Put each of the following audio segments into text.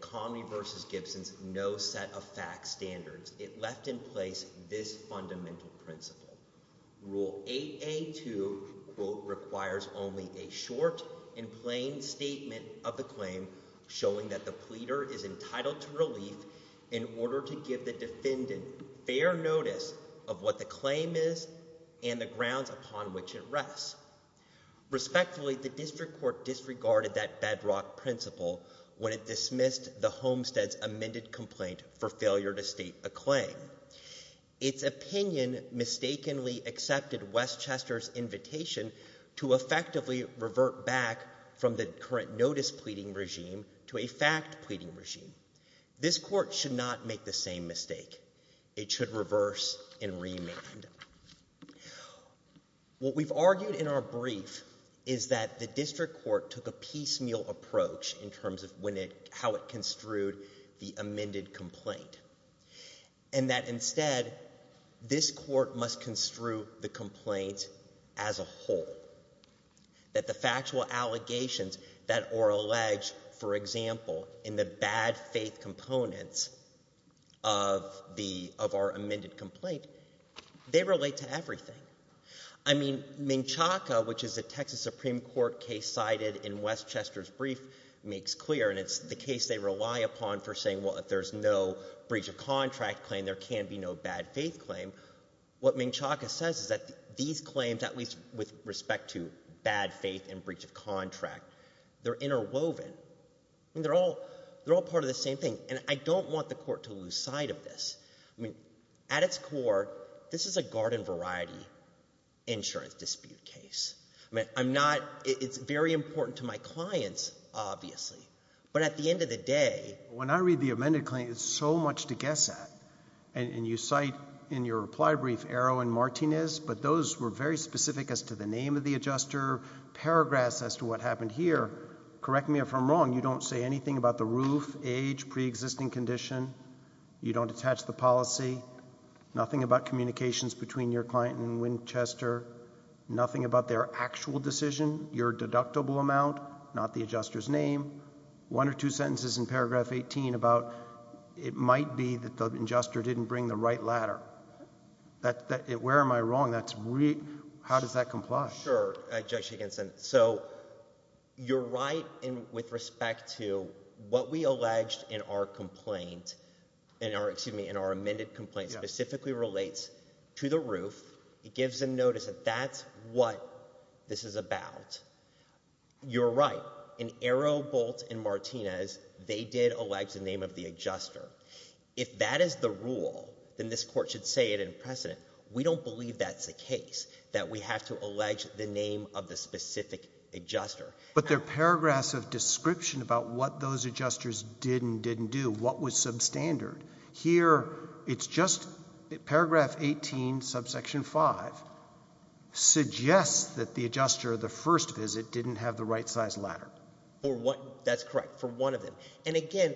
Comrie v. Gibson's no-set-of-fact standards, it left in place this fundamental principle. Rule 8A.2, quote, requires only a short and plain statement of the claim showing that the pleader is entitled to relief in order to give the defendant fair notice of what the claim is and the grounds upon which it rests. Respectfully, the district court disregarded that bedrock principle when it dismissed the homestead's amended complaint for failure to state a claim. Its opinion mistakenly accepted Westchester's invitation to effectively revert back from the current notice-pleading regime to a fact-pleading regime. This court should not make the same mistake. It should reverse and remand. What we've argued in our brief is that the district court took a piecemeal approach in terms of how it construed the amended complaint and that instead this court must construe the complaint as a whole, that the factual allegations that are alleged, for example, in the bad faith components of our amended complaint they relate to everything. I mean, Ming-Chaka, which is a Texas Supreme Court case cited in Westchester's brief, makes clear, and it's the case they rely upon for saying, well, if there's no breach of contract claim, there can be no bad faith claim. What Ming-Chaka says is that these claims, at least with respect to bad faith and breach of contract, they're interwoven. I mean, they're all part of the same thing. And I don't want the court to lose sight of this. I mean, at its core, this is a garden-variety insurance dispute case. I mean, I'm not — it's very important to my clients, obviously. But at the end of the day — When I read the amended complaint, there's so much to guess at. And you cite in your reply brief Erwin Martinez, but those were very specific as to the name of the adjuster, paragraphs as to what happened here. Correct me if I'm wrong. You don't say anything about the roof, age, preexisting condition. You don't attach the policy. Nothing about communications between your client and Winchester. Nothing about their actual decision, your deductible amount, not the adjuster's name. One or two sentences in paragraph 18 about it might be that the adjuster didn't bring the right ladder. Where am I wrong? That's — how does that comply? Sure, Judge Higginson. So you're right with respect to what we alleged in our complaint — excuse me, in our amended complaint specifically relates to the roof. It gives them notice that that's what this is about. You're right. In Aero, Bolt, and Martinez, they did allege the name of the adjuster. If that is the rule, then this court should say it in precedent. We don't believe that's the case, that we have to allege the name of the specific adjuster. But there are paragraphs of description about what those adjusters did and didn't do, what was substandard. Here it's just paragraph 18, subsection 5, suggests that the adjuster, the first visit, didn't have the right size ladder. That's correct, for one of them. And again,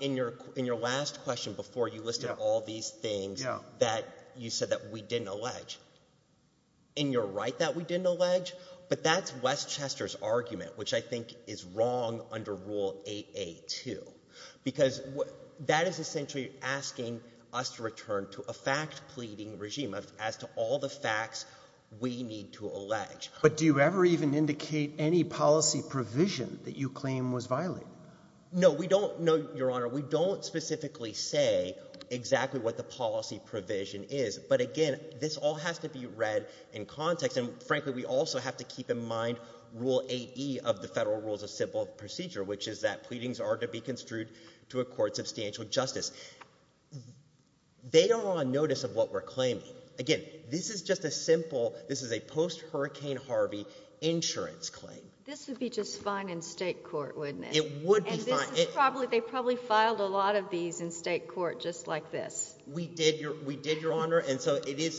in your last question before, you listed all these things that you said that we didn't allege. And you're right that we didn't allege, but that's Westchester's argument, which I think is wrong under Rule 8a-2, because that is essentially asking us to return to a fact-pleading regime as to all the facts we need to allege. But do you ever even indicate any policy provision that you claim was violated? No, we don't, Your Honor. We don't specifically say exactly what the policy provision is. But again, this all has to be read in context. And frankly, we also have to keep in mind Rule 8e of the Federal Rules of Civil Procedure, which is that pleadings are to be construed to a court substantial justice. They are on notice of what we're claiming. Again, this is just a simple – this is a post-Hurricane Harvey insurance claim. This would be just fine in state court, wouldn't it? It would be fine. And this is probably – they probably filed a lot of these in state court just like this. We did, Your Honor, and so it is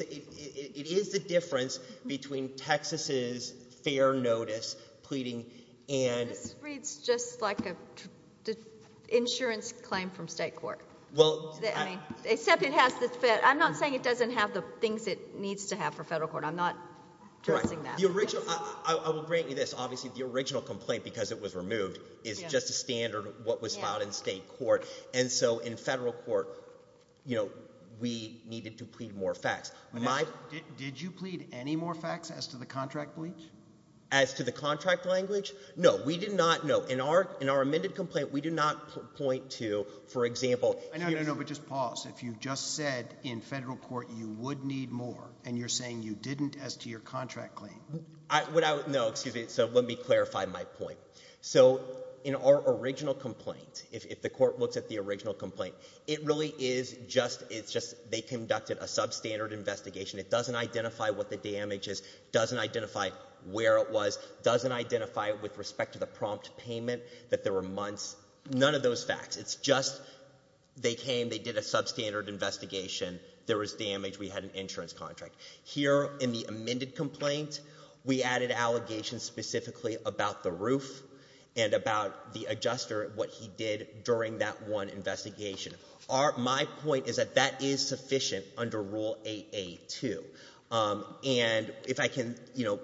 the difference between Texas's fair notice pleading and – This reads just like an insurance claim from state court. Except it has the – I'm not saying it doesn't have the things it needs to have for federal court. I'm not addressing that. The original – I will grant you this. Obviously, the original complaint, because it was removed, is just a standard of what was filed in state court. And so in federal court, we needed to plead more facts. Did you plead any more facts as to the contract bleach? As to the contract language? No, we did not – no. In our amended complaint, we do not point to, for example – No, no, no, but just pause. If you just said in federal court you would need more and you're saying you didn't as to your contract claim. No, excuse me. So let me clarify my point. So in our original complaint, if the court looks at the original complaint, it really is just – it's just they conducted a substandard investigation. It doesn't identify what the damage is. It doesn't identify where it was. It doesn't identify with respect to the prompt payment that there were months. None of those facts. It's just they came. They did a substandard investigation. There was damage. We had an insurance contract. Here in the amended complaint, we added allegations specifically about the roof and about the adjuster, what he did during that one investigation. My point is that that is sufficient under Rule 8a2. And if I can, you know,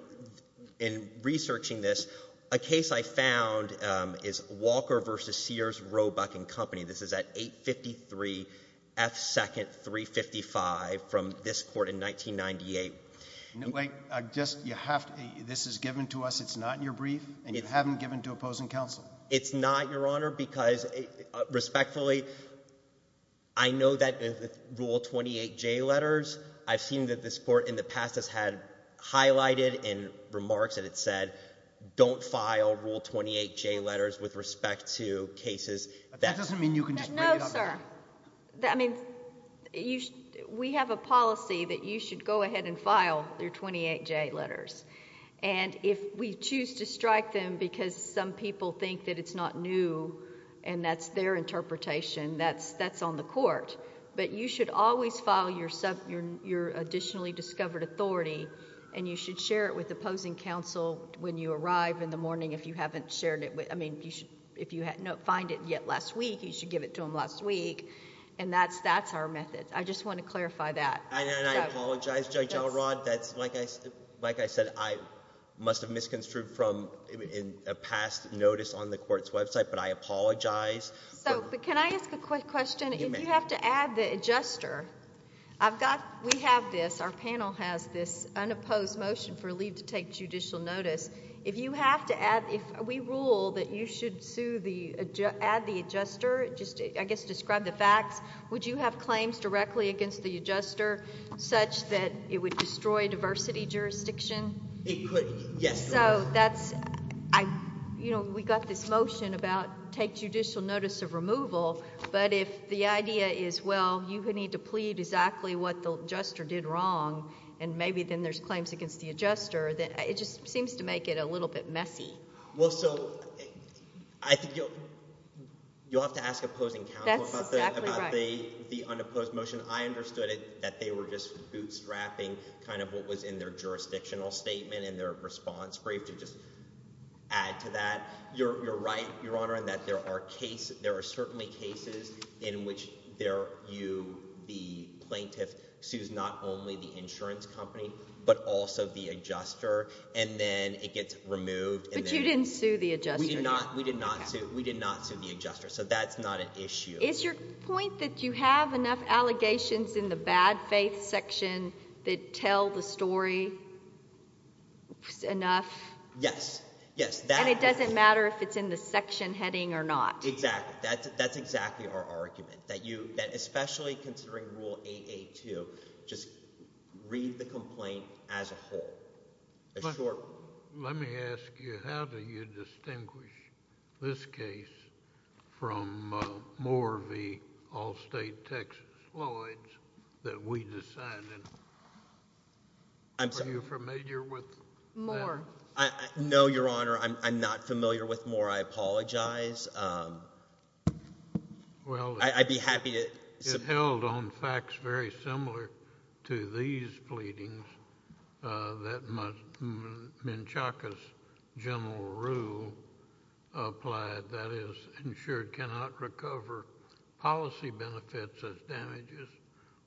in researching this, a case I found is Walker v. Sears, Roebuck & Company. This is at 853 F. 2nd, 355 from this court in 1998. Wait. Just – you have to – this is given to us. It's not in your brief, and you haven't given it to opposing counsel. It's not, Your Honor, because respectfully, I know that in Rule 28j letters, I've seen that this court in the past has had highlighted in remarks that it said don't file Rule 28j letters with respect to cases that – That doesn't mean you can just bring it up again. No, sir. I mean, we have a policy that you should go ahead and file your 28j letters. And if we choose to strike them because some people think that it's not new and that's their interpretation, that's on the court. But you should always file your additionally discovered authority, and you should share it with opposing counsel when you arrive in the morning if you haven't shared it. I mean, if you find it yet last week, you should give it to them last week. And that's our method. I just want to clarify that. And I apologize, Judge Elrod. Like I said, I must have misconstrued from a past notice on the court's website, but I apologize. So can I ask a quick question? If you have to add the adjuster, I've got – we have this. Our panel has this unopposed motion for leave to take judicial notice. If you have to add – if we rule that you should sue the – add the adjuster, just I guess describe the facts, would you have claims directly against the adjuster such that it would destroy diversity jurisdiction? It could, yes. So that's – you know, we got this motion about take judicial notice of removal, but if the idea is, well, you need to plead exactly what the adjuster did wrong and maybe then there's claims against the adjuster, it just seems to make it a little bit messy. Well, so I think you'll have to ask opposing counsel about the unopposed motion. I understood it that they were just bootstrapping kind of what was in their jurisdictional statement and their response brief to just add to that. You're right, Your Honor, in that there are cases – there are cases in which you, the plaintiff, sues not only the insurance company but also the adjuster, and then it gets removed. But you didn't sue the adjuster. We did not sue the adjuster, so that's not an issue. Is your point that you have enough allegations in the bad faith section that tell the story enough? Yes, yes. And it doesn't matter if it's in the section heading or not. Exactly. That's exactly our argument, that especially considering Rule 8.8.2, just read the complaint as a whole. Let me ask you, how do you distinguish this case from Moore v. Allstate, Texas Lloyds that we decided? Are you familiar with that? Moore. Your Honor, I apologize. I'd be happy to – It held on facts very similar to these pleadings that Menchaca's general rule applied, that is, insured cannot recover policy benefits as damages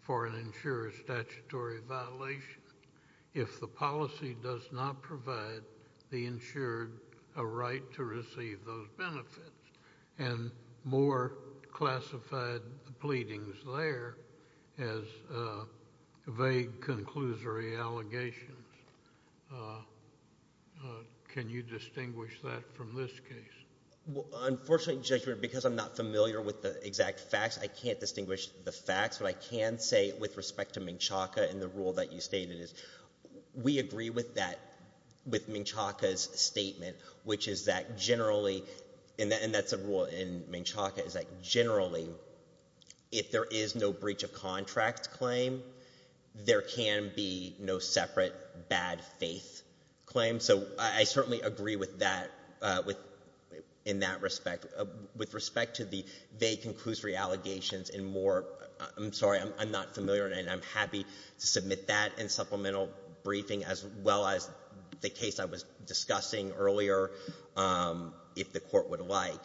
for an insurer's statutory violation if the policy does not provide the insured a right to receive those benefits. And Moore classified the pleadings there as vague, conclusory allegations. Can you distinguish that from this case? Well, unfortunately, Your Honor, because I'm not familiar with the exact facts, I can't distinguish the facts. What I can say with respect to Menchaca and the rule that you stated is we agree with that, with Menchaca's statement, which is that generally – and that's a rule in Menchaca – is that generally if there is no breach of contract claim, there can be no separate bad faith claim. And so I certainly agree with that in that respect. With respect to the vague, conclusory allegations in Moore, I'm sorry, I'm not familiar, and I'm happy to submit that in supplemental briefing as well as the case I was discussing earlier if the Court would like.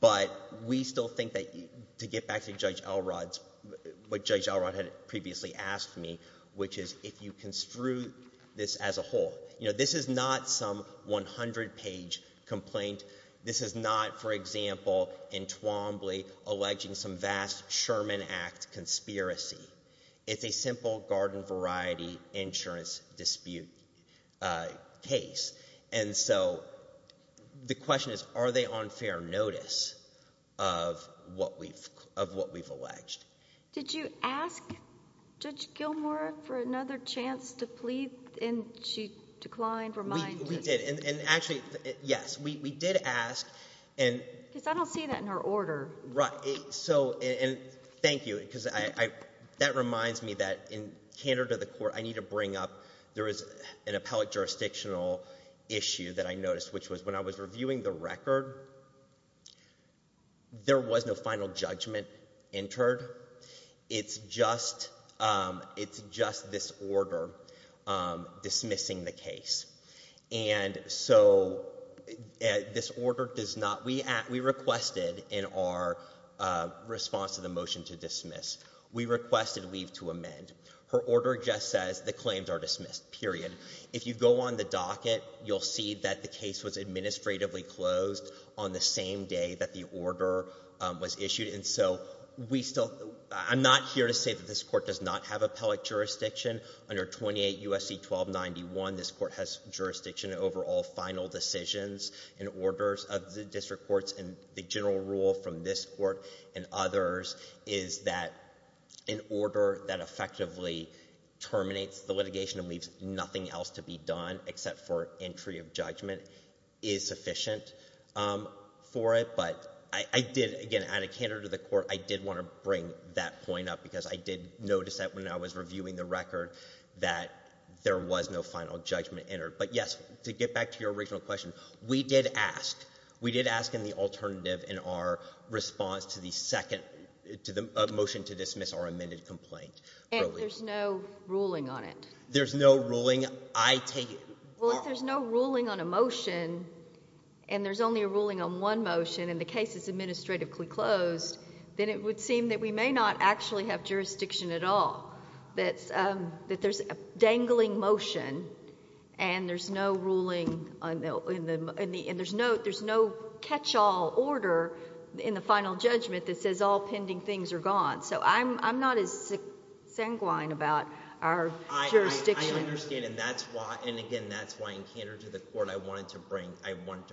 But we still think that to get back to Judge Elrod's – what Judge Elrod had previously asked me, which is if you construe this as a whole. This is not some 100-page complaint. This is not, for example, in Twombly alleging some vast Sherman Act conspiracy. It's a simple garden variety insurance dispute case. And so the question is are they on fair notice of what we've alleged? Did you ask Judge Gilmour for another chance to plead and she declined, reminded? We did, and actually, yes, we did ask. Because I don't see that in her order. Right. So – and thank you because that reminds me that in candor to the Court, I need to bring up – there is an appellate jurisdictional issue that I noticed, which was when I was reviewing the record, there was no final judgment entered. It's just this order dismissing the case. And so this order does not – we requested in our response to the motion to dismiss, we requested leave to amend. Her order just says the claims are dismissed, period. If you go on the docket, you'll see that the case was administratively closed on the same day that the order was issued. And so we still – I'm not here to say that this court does not have appellate jurisdiction. Under 28 U.S.C. 1291, this court has jurisdiction over all final decisions and orders of the district courts. And the general rule from this court and others is that an order that effectively terminates the litigation and leaves nothing else to be done except for entry of judgment is sufficient for it. But I did, again, add a candor to the Court. I did want to bring that point up because I did notice that when I was reviewing the record that there was no final judgment entered. But, yes, to get back to your original question, we did ask. We did ask in the alternative in our response to the second – to the motion to dismiss our amended complaint earlier. And there's no ruling on it? There's no ruling. I take it – Well, if there's no ruling on a motion and there's only a ruling on one motion and the case is administratively closed, then it would seem that we may not actually have jurisdiction at all. That there's a dangling motion and there's no ruling – and there's no catch-all order in the final judgment that says all pending things are gone. So I'm not as sanguine about our jurisdiction. I understand. And that's why – and, again, that's why in candor to the Court I wanted to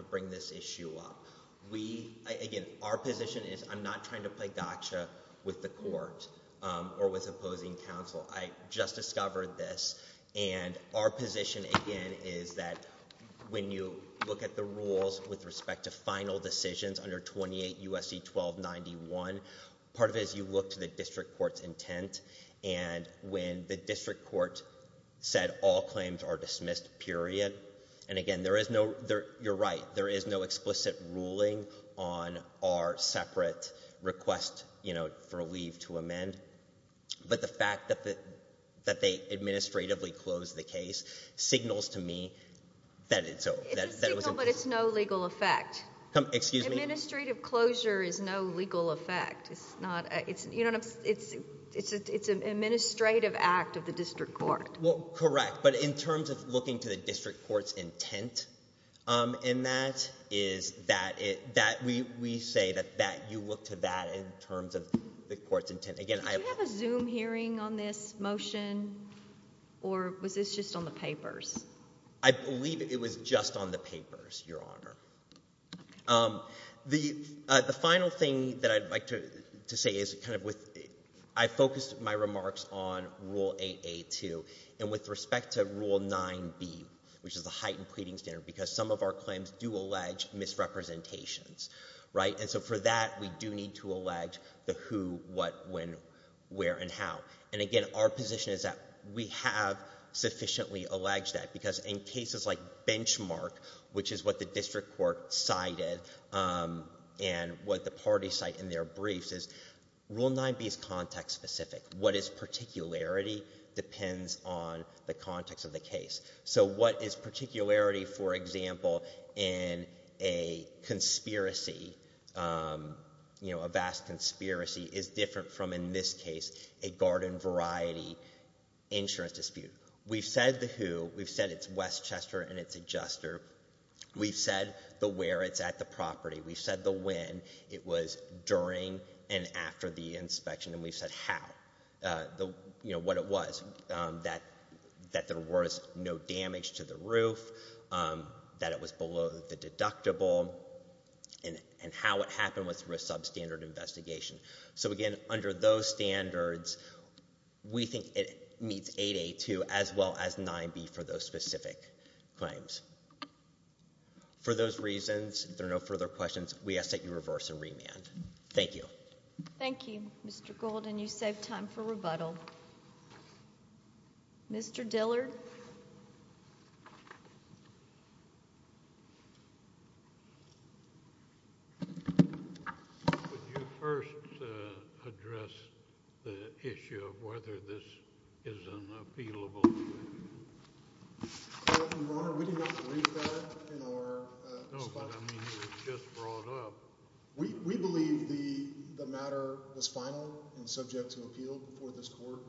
bring this issue up. Again, our position is I'm not trying to play gotcha with the Court or with opposing counsel. I just discovered this. And our position, again, is that when you look at the rules with respect to final decisions under 28 U.S.C. 1291, part of it is you look to the district court's intent. And when the district court said all claims are dismissed, period, and, again, there is no – you're right. There is no explicit ruling on our separate request for a leave to amend. But the fact that they administratively closed the case signals to me that it's – It's a signal, but it's no legal effect. Excuse me? Administrative closure is no legal effect. It's not – you don't – it's an administrative act of the district court. Well, correct. But in terms of looking to the district court's intent in that is that we say that you look to that in terms of the court's intent. Again, I – Did you have a Zoom hearing on this motion, or was this just on the papers? I believe it was just on the papers, Your Honor. The final thing that I'd like to say is kind of with – I focused my remarks on Rule 8A2. And with respect to Rule 9B, which is the heightened pleading standard, because some of our claims do allege misrepresentations, right? And so for that, we do need to allege the who, what, when, where, and how. And, again, our position is that we have sufficiently alleged that because in cases like Benchmark, which is what the district court cited and what the parties cite in their briefs, is Rule 9B is context-specific. What is particularity depends on the context of the case. So what is particularity, for example, in a conspiracy, a vast conspiracy, is different from, in this case, a garden variety insurance dispute. We've said the who. We've said it's Westchester and it's adjuster. We've said the where. It's at the property. We've said the when. It was during and after the inspection. And we've said how, what it was, that there was no damage to the roof, that it was below the deductible, and how it happened was through a substandard investigation. So, again, under those standards, we think it meets 8A2 as well as 9B for those specific claims. For those reasons, if there are no further questions, we ask that you reverse and remand. Thank you. Thank you, Mr. Gould, and you save time for rebuttal. Mr. Dillard? Could you first address the issue of whether this is an appealable claim? Your Honor, we do not believe that in our response. No, but I mean it was just brought up. We believe the matter was final and subject to appeal before this court.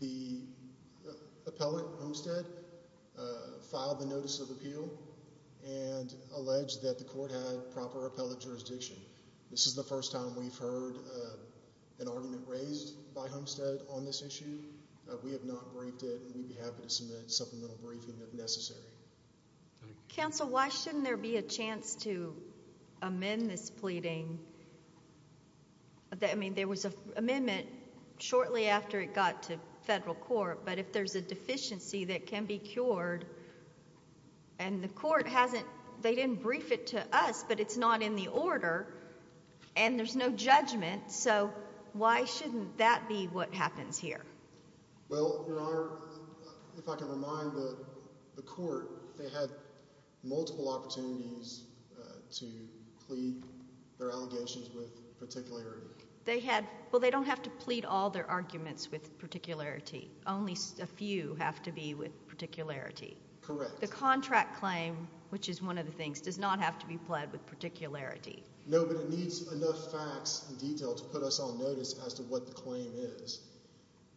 The appellate, Homestead, filed the notice of appeal and alleged that the court had proper appellate jurisdiction. This is the first time we've heard an argument raised by Homestead on this issue. We have not briefed it, and we'd be happy to submit a supplemental briefing if necessary. Counsel, why shouldn't there be a chance to amend this pleading? I mean, there was an amendment shortly after it got to federal court, but if there's a deficiency that can be cured and the court hasn't, they didn't brief it to us, but it's not in the order and there's no judgment, so why shouldn't that be what happens here? Well, Your Honor, if I can remind the court, they had multiple opportunities to plead their allegations with particularity. Well, they don't have to plead all their arguments with particularity. Only a few have to be with particularity. Correct. The contract claim, which is one of the things, does not have to be pled with particularity. No, but it needs enough facts and detail to put us on notice as to what the claim is.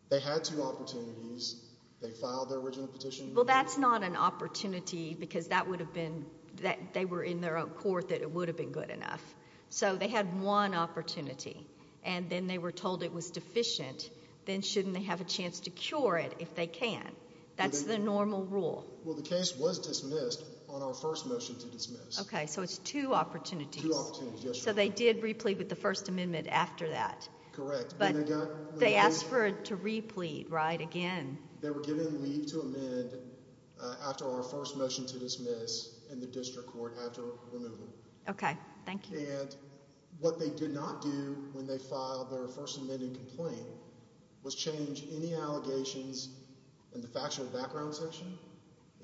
They had two opportunities. They filed their original petition. Well, that's not an opportunity because that would have been, they were in their own court that it would have been good enough. So they had one opportunity, and then they were told it was deficient. Then shouldn't they have a chance to cure it if they can? That's the normal rule. Well, the case was dismissed on our first motion to dismiss. Okay, so it's two opportunities. Two opportunities, yes, Your Honor. So they did replete with the First Amendment after that. Correct. But they asked for it to replete, right, again. They were given leave to amend after our first motion to dismiss in the district court after removal. Okay, thank you. And what they did not do when they filed their First Amendment complaint was change any allegations in the factual background section,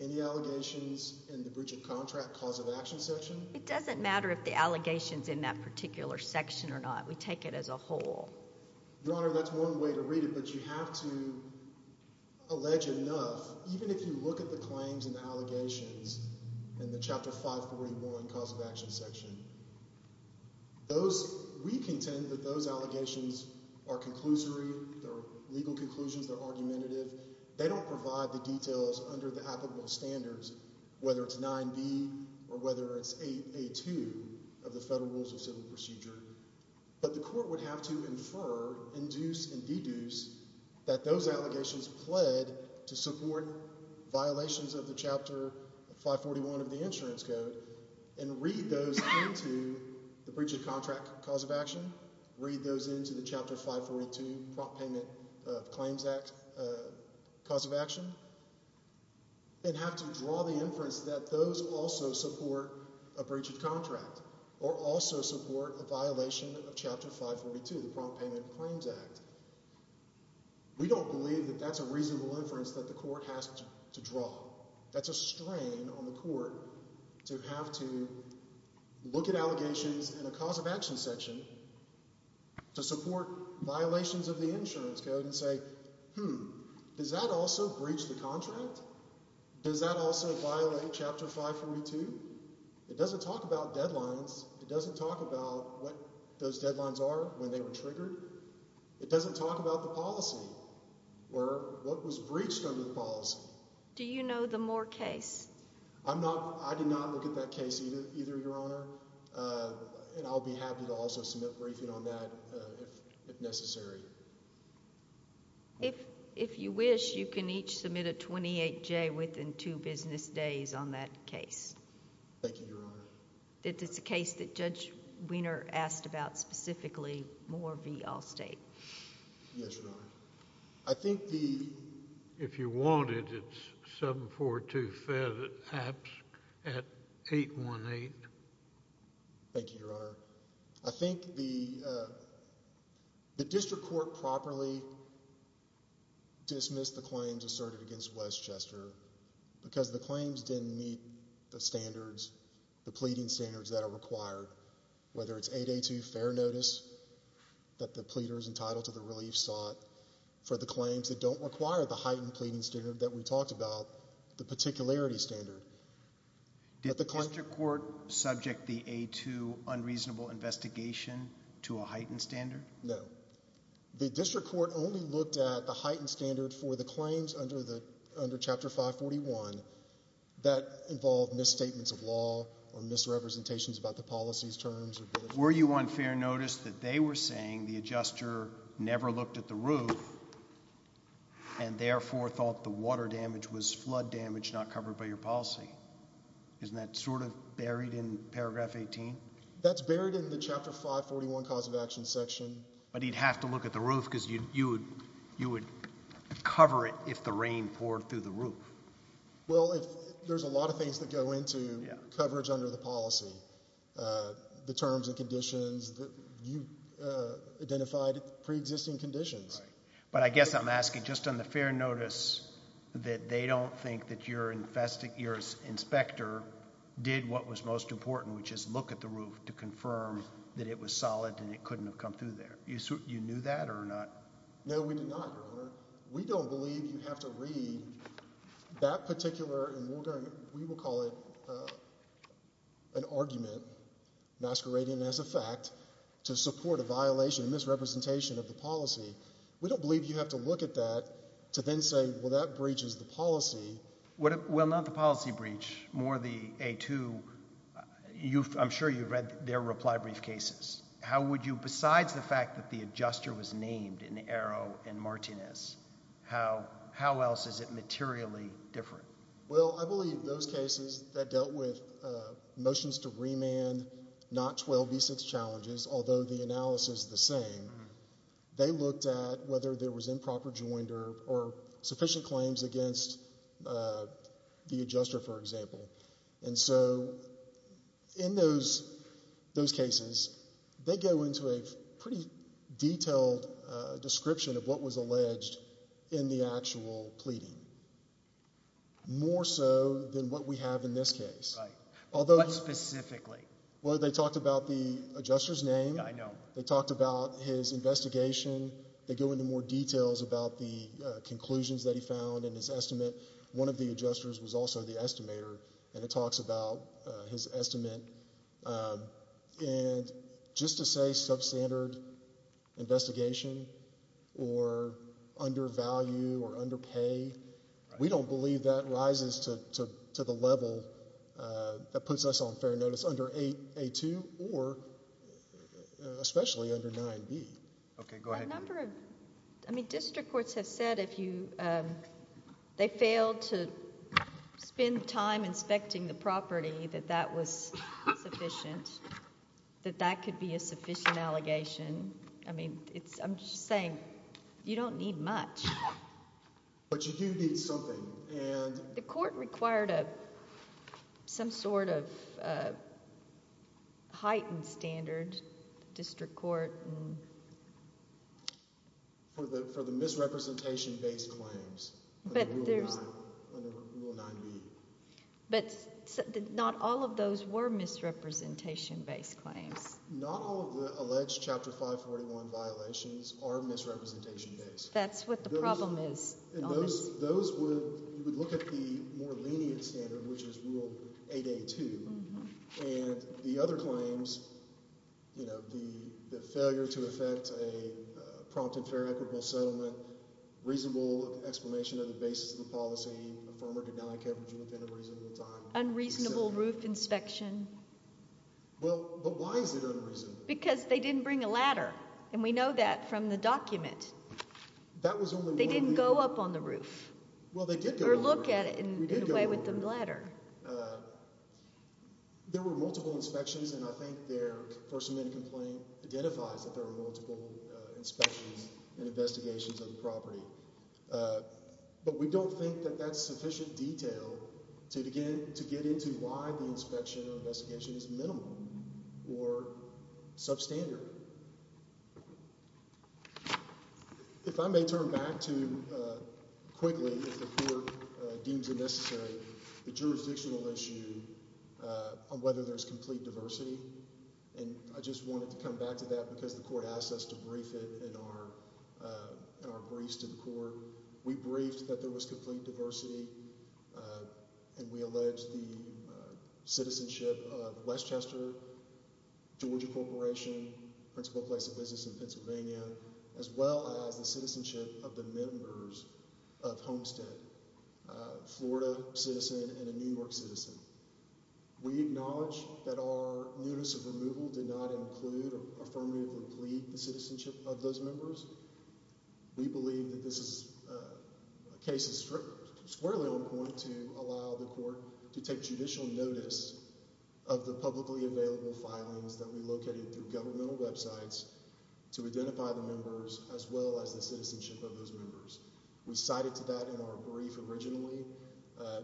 any allegations in the breach of contract cause of action section. It doesn't matter if the allegation is in that particular section or not. We take it as a whole. Your Honor, that's one way to read it, but you have to allege enough. Even if you look at the claims and the allegations in the Chapter 541 cause of action section, we contend that those allegations are conclusory, they're legal conclusions, they're argumentative. They don't provide the details under the applicable standards, whether it's 9B or whether it's 8A2 of the Federal Rules of Civil Procedure. But the court would have to infer, induce, and deduce that those allegations pled to support violations of the Chapter 541 of the insurance code and read those into the breach of contract cause of action, read those into the Chapter 542 Prompt Payment of Claims Act cause of action, and have to draw the inference that those also support a breach of contract or also support a violation of Chapter 542, the Prompt Payment of Claims Act. We don't believe that that's a reasonable inference that the court has to draw. That's a strain on the court to have to look at allegations in a cause of action section to support violations of the insurance code and say, hmm, does that also breach the contract? Does that also violate Chapter 542? It doesn't talk about deadlines. It doesn't talk about what those deadlines are when they were triggered. It doesn't talk about the policy or what was breached under the policy. Do you know the Moore case? I did not look at that case either, Your Honor, and I'll be happy to also submit a briefing on that if necessary. If you wish, you can each submit a 28-J within two business days on that case. Thank you, Your Honor. It's a case that Judge Wiener asked about specifically, Moore v. Allstate. Yes, Your Honor. I think the—if you want it, it's 742-FATS at 818. Thank you, Your Honor. I think the district court properly dismissed the claims asserted against Westchester because the claims didn't meet the standards, the pleading standards that are required, whether it's 8A2 fair notice that the pleader is entitled to the relief sought for the claims that don't require the heightened pleading standard that we talked about, the particularity standard. Did the district court subject the 8A2 unreasonable investigation to a heightened standard? No. The district court only looked at the heightened standard for the claims under Chapter 541 and that involved misstatements of law or misrepresentations about the policy's terms. Were you on fair notice that they were saying the adjuster never looked at the roof and therefore thought the water damage was flood damage not covered by your policy? Isn't that sort of buried in paragraph 18? That's buried in the Chapter 541 cause of action section. But he'd have to look at the roof because you would cover it if the rain poured through the roof. Well, there's a lot of things that go into coverage under the policy, the terms and conditions. You identified preexisting conditions. But I guess I'm asking just on the fair notice that they don't think that your inspector did what was most important, which is look at the roof to confirm that it was solid and it couldn't have come through there. You knew that or not? No, we did not, Your Honor. We don't believe you have to read that particular, and we will call it an argument masquerading as a fact, to support a violation, a misrepresentation of the policy. We don't believe you have to look at that to then say, well, that breaches the policy. Well, not the policy breach, more the A2. I'm sure you've read their reply brief cases. How would you, besides the fact that the adjuster was named in Arrow and Martinez, how else is it materially different? Well, I believe those cases that dealt with motions to remand, not 12b6 challenges, although the analysis is the same, they looked at whether there was improper joinder or sufficient claims against the adjuster, for example. And so in those cases, they go into a pretty detailed description of what was alleged in the actual pleading, more so than what we have in this case. Right. What specifically? Well, they talked about the adjuster's name. I know. They talked about his investigation. They go into more details about the conclusions that he found in his estimate. One of the adjusters was also the estimator, and it talks about his estimate. And just to say substandard investigation or undervalue or underpay, we don't believe that rises to the level that puts us on fair notice under A2 or especially under 9b. Okay, go ahead. A number of district courts have said if they failed to spend time inspecting the property that that was sufficient, that that could be a sufficient allegation. I'm just saying you don't need much. But you do need something. The court required some sort of heightened standard, district court. For the misrepresentation-based claims under Rule 9b. But not all of those were misrepresentation-based claims. Not all of the alleged Chapter 541 violations are misrepresentation-based. That's what the problem is. Those would look at the more lenient standard, which is Rule 8A2. And the other claims, you know, the failure to effect a prompt and fair equitable settlement, reasonable explanation of the basis of the policy, affirmer to deny coverage within a reasonable time. Unreasonable roof inspection. Well, but why is it unreasonable? Because they didn't bring a ladder. And we know that from the document. They didn't go up on the roof. Or look at it in a way with the ladder. There were multiple inspections, and I think their first amendment complaint identifies that there were multiple inspections and investigations of the property. But we don't think that that's sufficient detail to get into why the inspection or investigation is minimal or substandard. If I may turn back to, quickly, if the court deems it necessary, the jurisdictional issue on whether there's complete diversity. And I just wanted to come back to that because the court asked us to brief it in our briefs to the court. We briefed that there was complete diversity, and we alleged the citizenship of Westchester, Georgia Corporation, principal place of business in Pennsylvania, as well as the citizenship of the members of Homestead, a Florida citizen and a New York citizen. We acknowledge that our notice of removal did not include or affirmatively plead the citizenship of those members. We believe that this case is squarely on point to allow the court to take judicial notice of the publicly available filings that we located through governmental websites to identify the members as well as the citizenship of those members. We cited to that in our brief originally,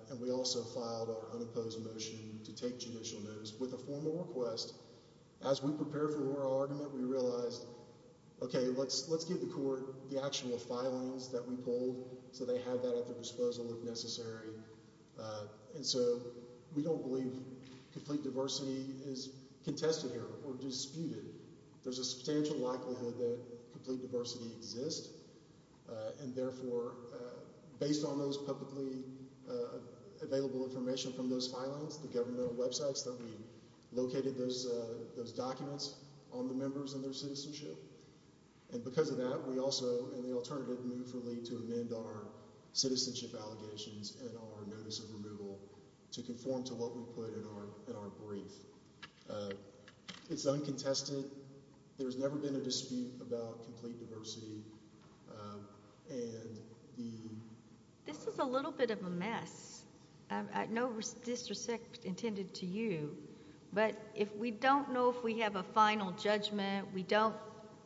and we also filed our unopposed motion to take judicial notice with a formal request. As we prepare for our argument, we realized, OK, let's give the court the actual filings that we pulled so they have that at their disposal if necessary. And so we don't believe complete diversity is contested here or disputed. There's a substantial likelihood that complete diversity exists, and therefore, based on those publicly available information from those filings, the governmental websites that we located those documents on the members and their citizenship. And because of that, we also in the alternative move to amend our citizenship allegations and our notice of removal to conform to what we put in our brief. It's uncontested. There's never been a dispute about complete diversity. This is a little bit of a mess. I know this was intended to you, but if we don't know if we have a final judgment, we don't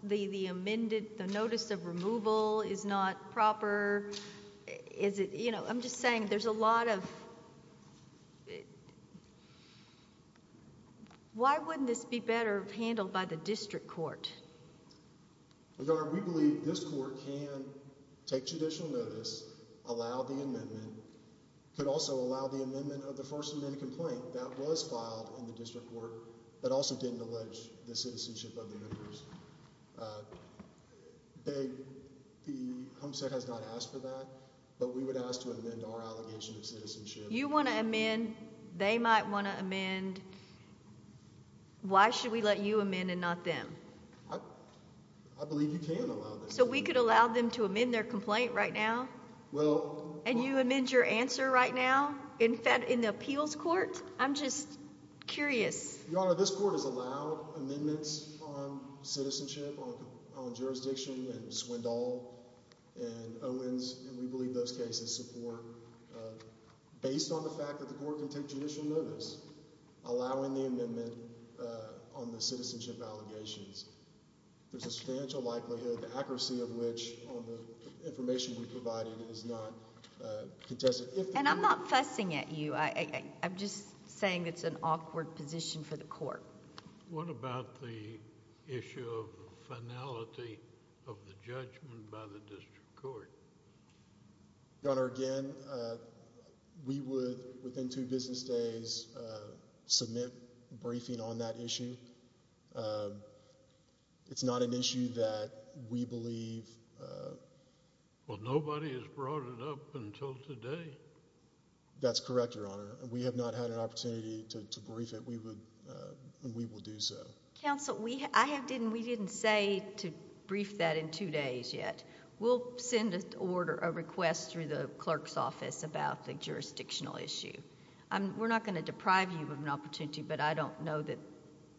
leave the amended. The notice of removal is not proper. Is it? You know, I'm just saying there's a lot of. Why wouldn't this be better handled by the district court? We believe this court can take judicial notice, allow the amendment, could also allow the amendment of the first amendment complaint that was filed in the district court, but also didn't allege the citizenship of the members. They said has not asked for that, but we would ask to amend our allegation of citizenship. You want to amend? They might want to amend. Why should we let you amend and not them? So we could allow them to amend their complaint right now. Well, and you amend your answer right now. In fact, in the appeals court, I'm just curious. Your Honor, this court is allowed amendments on citizenship on jurisdiction and swindle and Owens. And we believe those cases support based on the fact that the court can take judicial notice, allowing the amendment on the citizenship allegations. There's a substantial likelihood the accuracy of which on the information we provided is not contested. And I'm not fussing at you. I'm just saying it's an awkward position for the court. What about the issue of finality of the judgment by the district court? Your Honor, again, we would, within two business days, submit a briefing on that issue. It's not an issue that we believe. Well, nobody has brought it up until today. That's correct, Your Honor. We have not had an opportunity to brief it. We will do so. Counsel, we didn't say to brief that in two days yet. We'll send a request through the clerk's office about the jurisdictional issue. We're not going to deprive you of an opportunity, but I don't know that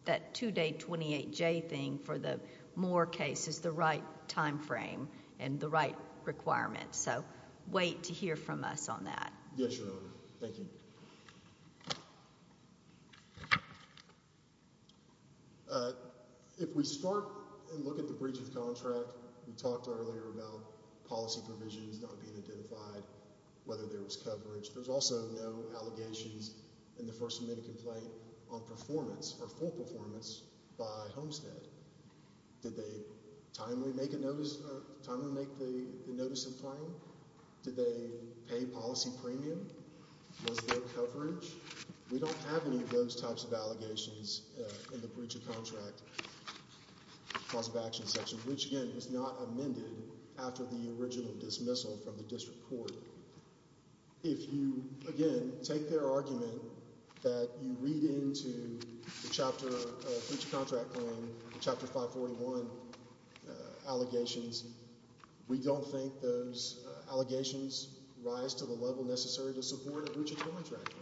that two-day 28-J thing for the Moore case is the right time frame and the right requirements. So, wait to hear from us on that. Yes, Your Honor. Thank you. If we start and look at the breach of contract, we talked earlier about policy provisions not being identified, whether there was coverage. There's also no allegations in the first amendment complaint on performance or full performance by Homestead. Did they timely make the notice of claim? Did they pay policy premium? Was there coverage? We don't have any of those types of allegations in the breach of contract clause of action section, which, again, is not amended after the original dismissal from the district court. If you, again, take their argument that you read into the chapter of breach of contract claim, chapter 541 allegations, we don't think those allegations rise to the level necessary to support a breach of contract claim.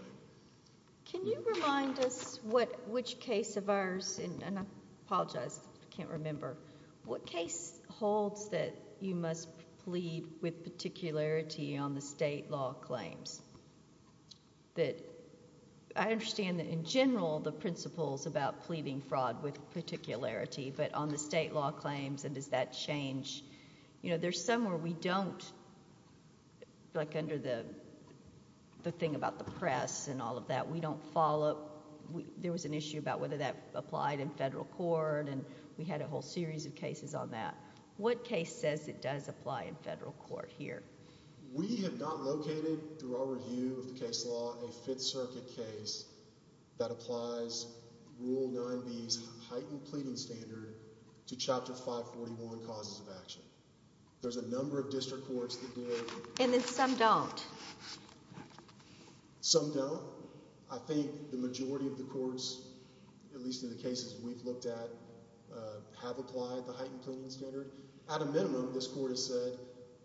Can you remind us which case of ours, and I apologize, I can't remember, what case holds that you must plead with particularity on the state law claims? I understand that, in general, the principles about pleading fraud with particularity, but on the state law claims, and does that change? There's some where we don't, like under the thing about the press and all of that, we don't follow up. There was an issue about whether that applied in federal court, and we had a whole series of cases on that. What case says it does apply in federal court here? We have not located, through our review of the case law, a Fifth Circuit case that applies Rule 9B's heightened pleading standard to Chapter 541 causes of action. There's a number of district courts that did. And then some don't. Some don't. I think the majority of the courts, at least in the cases we've looked at, have applied the heightened pleading standard. At a minimum, this court has said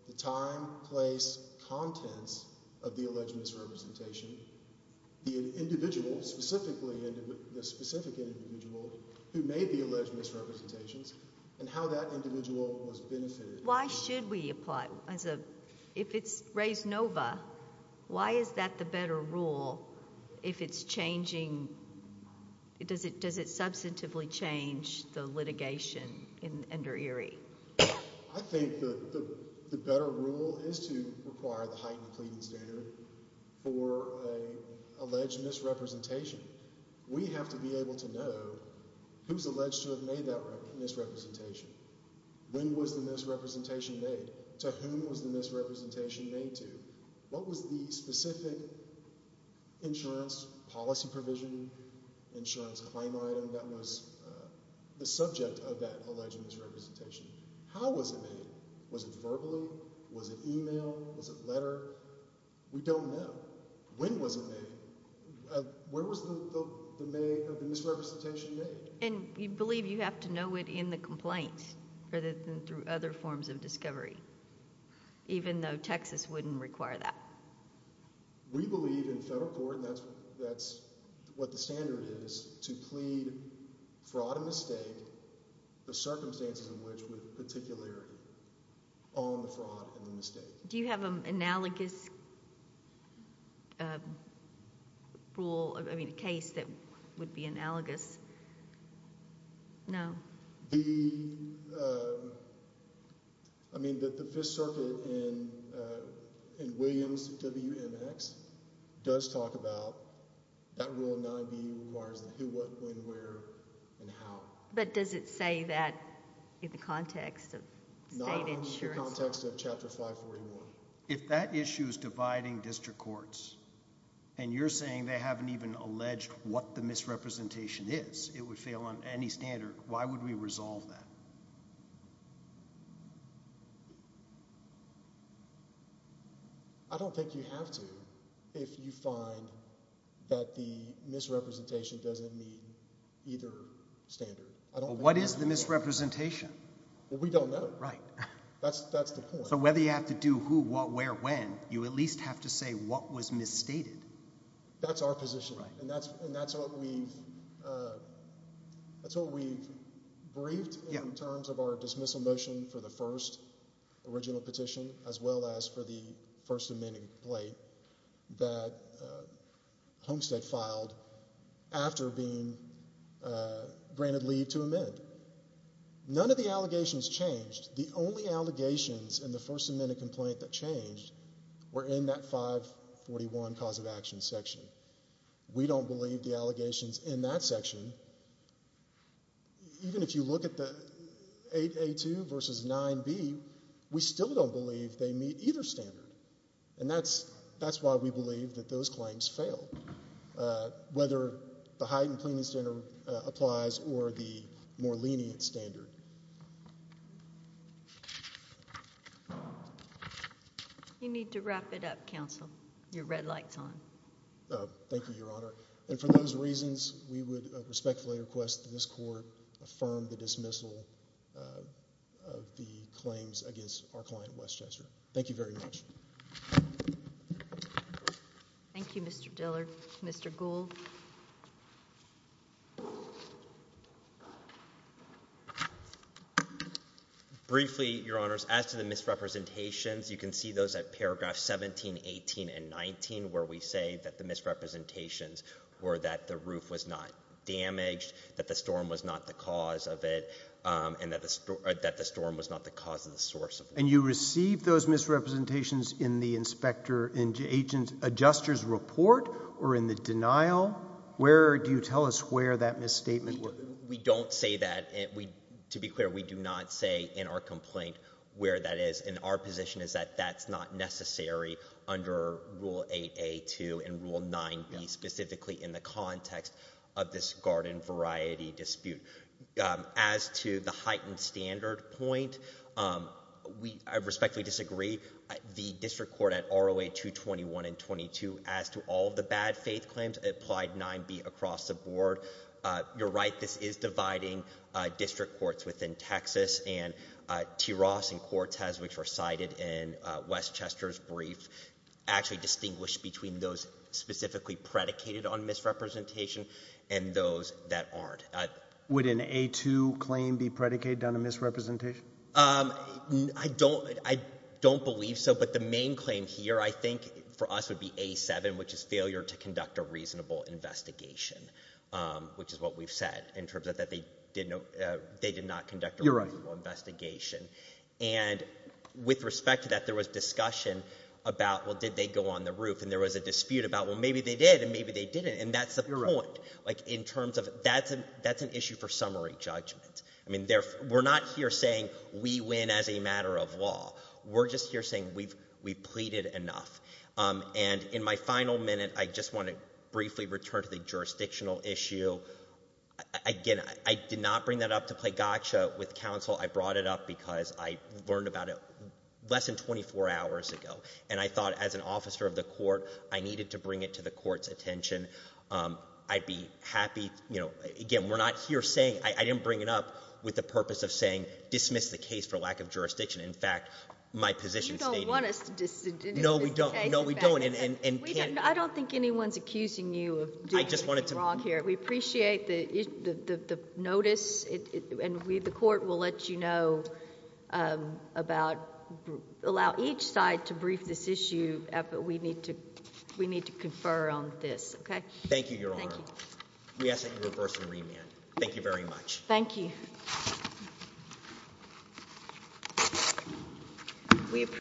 the time, place, contents of the alleged misrepresentation, the individual, the specific individual who made the alleged misrepresentations, and how that individual was benefited. Why should we apply? If it's res nova, why is that the better rule if it's changing, does it substantively change the litigation under Erie? I think the better rule is to require the heightened pleading standard for an alleged misrepresentation. We have to be able to know who's alleged to have made that misrepresentation. When was the misrepresentation made? To whom was the misrepresentation made to? What was the specific insurance policy provision, insurance claim item that was the subject of that alleged misrepresentation? How was it made? Was it verbally? Was it email? Was it letter? We don't know. When was it made? Where was the misrepresentation made? We believe you have to know it in the complaint rather than through other forms of discovery, even though Texas wouldn't require that. We believe in federal court, and that's what the standard is, to plead fraud and mistake, the circumstances in which with particularity, on the fraud and the mistake. Do you have an analogous rule, I mean, a case that would be analogous? No. The, I mean, the Fifth Circuit in Williams WMX does talk about that Rule 9B requires the who, what, when, where, and how. But does it say that in the context of state insurance? In the context of Chapter 541. If that issue is dividing district courts, and you're saying they haven't even alleged what the misrepresentation is, it would fail on any standard, why would we resolve that? I don't think you have to if you find that the misrepresentation doesn't meet either standard. What is the misrepresentation? Well, we don't know. Right. That's the point. So whether you have to do who, what, where, when, you at least have to say what was misstated. That's our position, and that's what we've briefed in terms of our dismissal motion for the first original petition, as well as for the first amending complaint that Homestead filed after being granted leave to amend. None of the allegations changed. The only allegations in the first amended complaint that changed were in that 541 cause of action section. We don't believe the allegations in that section, even if you look at the 8A2 versus 9B, we still don't believe they meet either standard. And that's why we believe that those claims failed. Whether the heightened plaintiff's standard applies or the more lenient standard. You need to wrap it up, counsel. Your red light's on. Thank you, Your Honor. And for those reasons, we would respectfully request that this court affirm the dismissal of the claims against our client, Westchester. Thank you very much. Thank you, Mr. Dillard. Mr. Gould. Briefly, Your Honors, as to the misrepresentations, you can see those at paragraph 17, 18, and 19, where we say that the misrepresentations were that the roof was not damaged, that the storm was not the cause of it, and that the storm was not the cause of the source of it. And you received those misrepresentations in the inspector and agent adjuster's report or in the denial? Where do you tell us where that misstatement was? We don't say that. To be clear, we do not say in our complaint where that is. And our position is that that's not necessary under Rule 8A2 and Rule 9B, specifically in the context of this garden variety dispute. As to the heightened standard point, we respectfully disagree. The district court at ROA 221 and 22, as to all of the bad faith claims, applied 9B across the board. You're right. This is dividing district courts within Texas. And T. Ross and Cortez, which were cited in Westchester's brief, actually distinguish between those specifically predicated on misrepresentation and those that aren't. Would an A2 claim be predicated on a misrepresentation? I don't believe so. But the main claim here, I think, for us would be A7, which is failure to conduct a reasonable investigation, which is what we've said in terms of that they did not conduct a reasonable investigation. And with respect to that, there was discussion about, well, did they go on the roof? And there was a dispute about, well, maybe they did and maybe they didn't. And that's the point. That's an issue for summary judgment. We're not here saying we win as a matter of law. We're just here saying we've pleaded enough. And in my final minute, I just want to briefly return to the jurisdictional issue. Again, I did not bring that up to play gotcha with counsel. I brought it up because I learned about it less than 24 hours ago. And I thought as an officer of the court, I needed to bring it to the court's attention. I'd be happy. Again, we're not here saying – I didn't bring it up with the purpose of saying dismiss the case for lack of jurisdiction. In fact, my position stated – You don't want us to dismiss the case. No, we don't. I don't think anyone's accusing you of doing anything wrong here. I just wanted to – We appreciate the notice, and the court will let you know about – allow each side to brief this issue. But we need to confer on this. Thank you, Your Honor. We ask that you reverse and remand. Thank you very much. Thank you.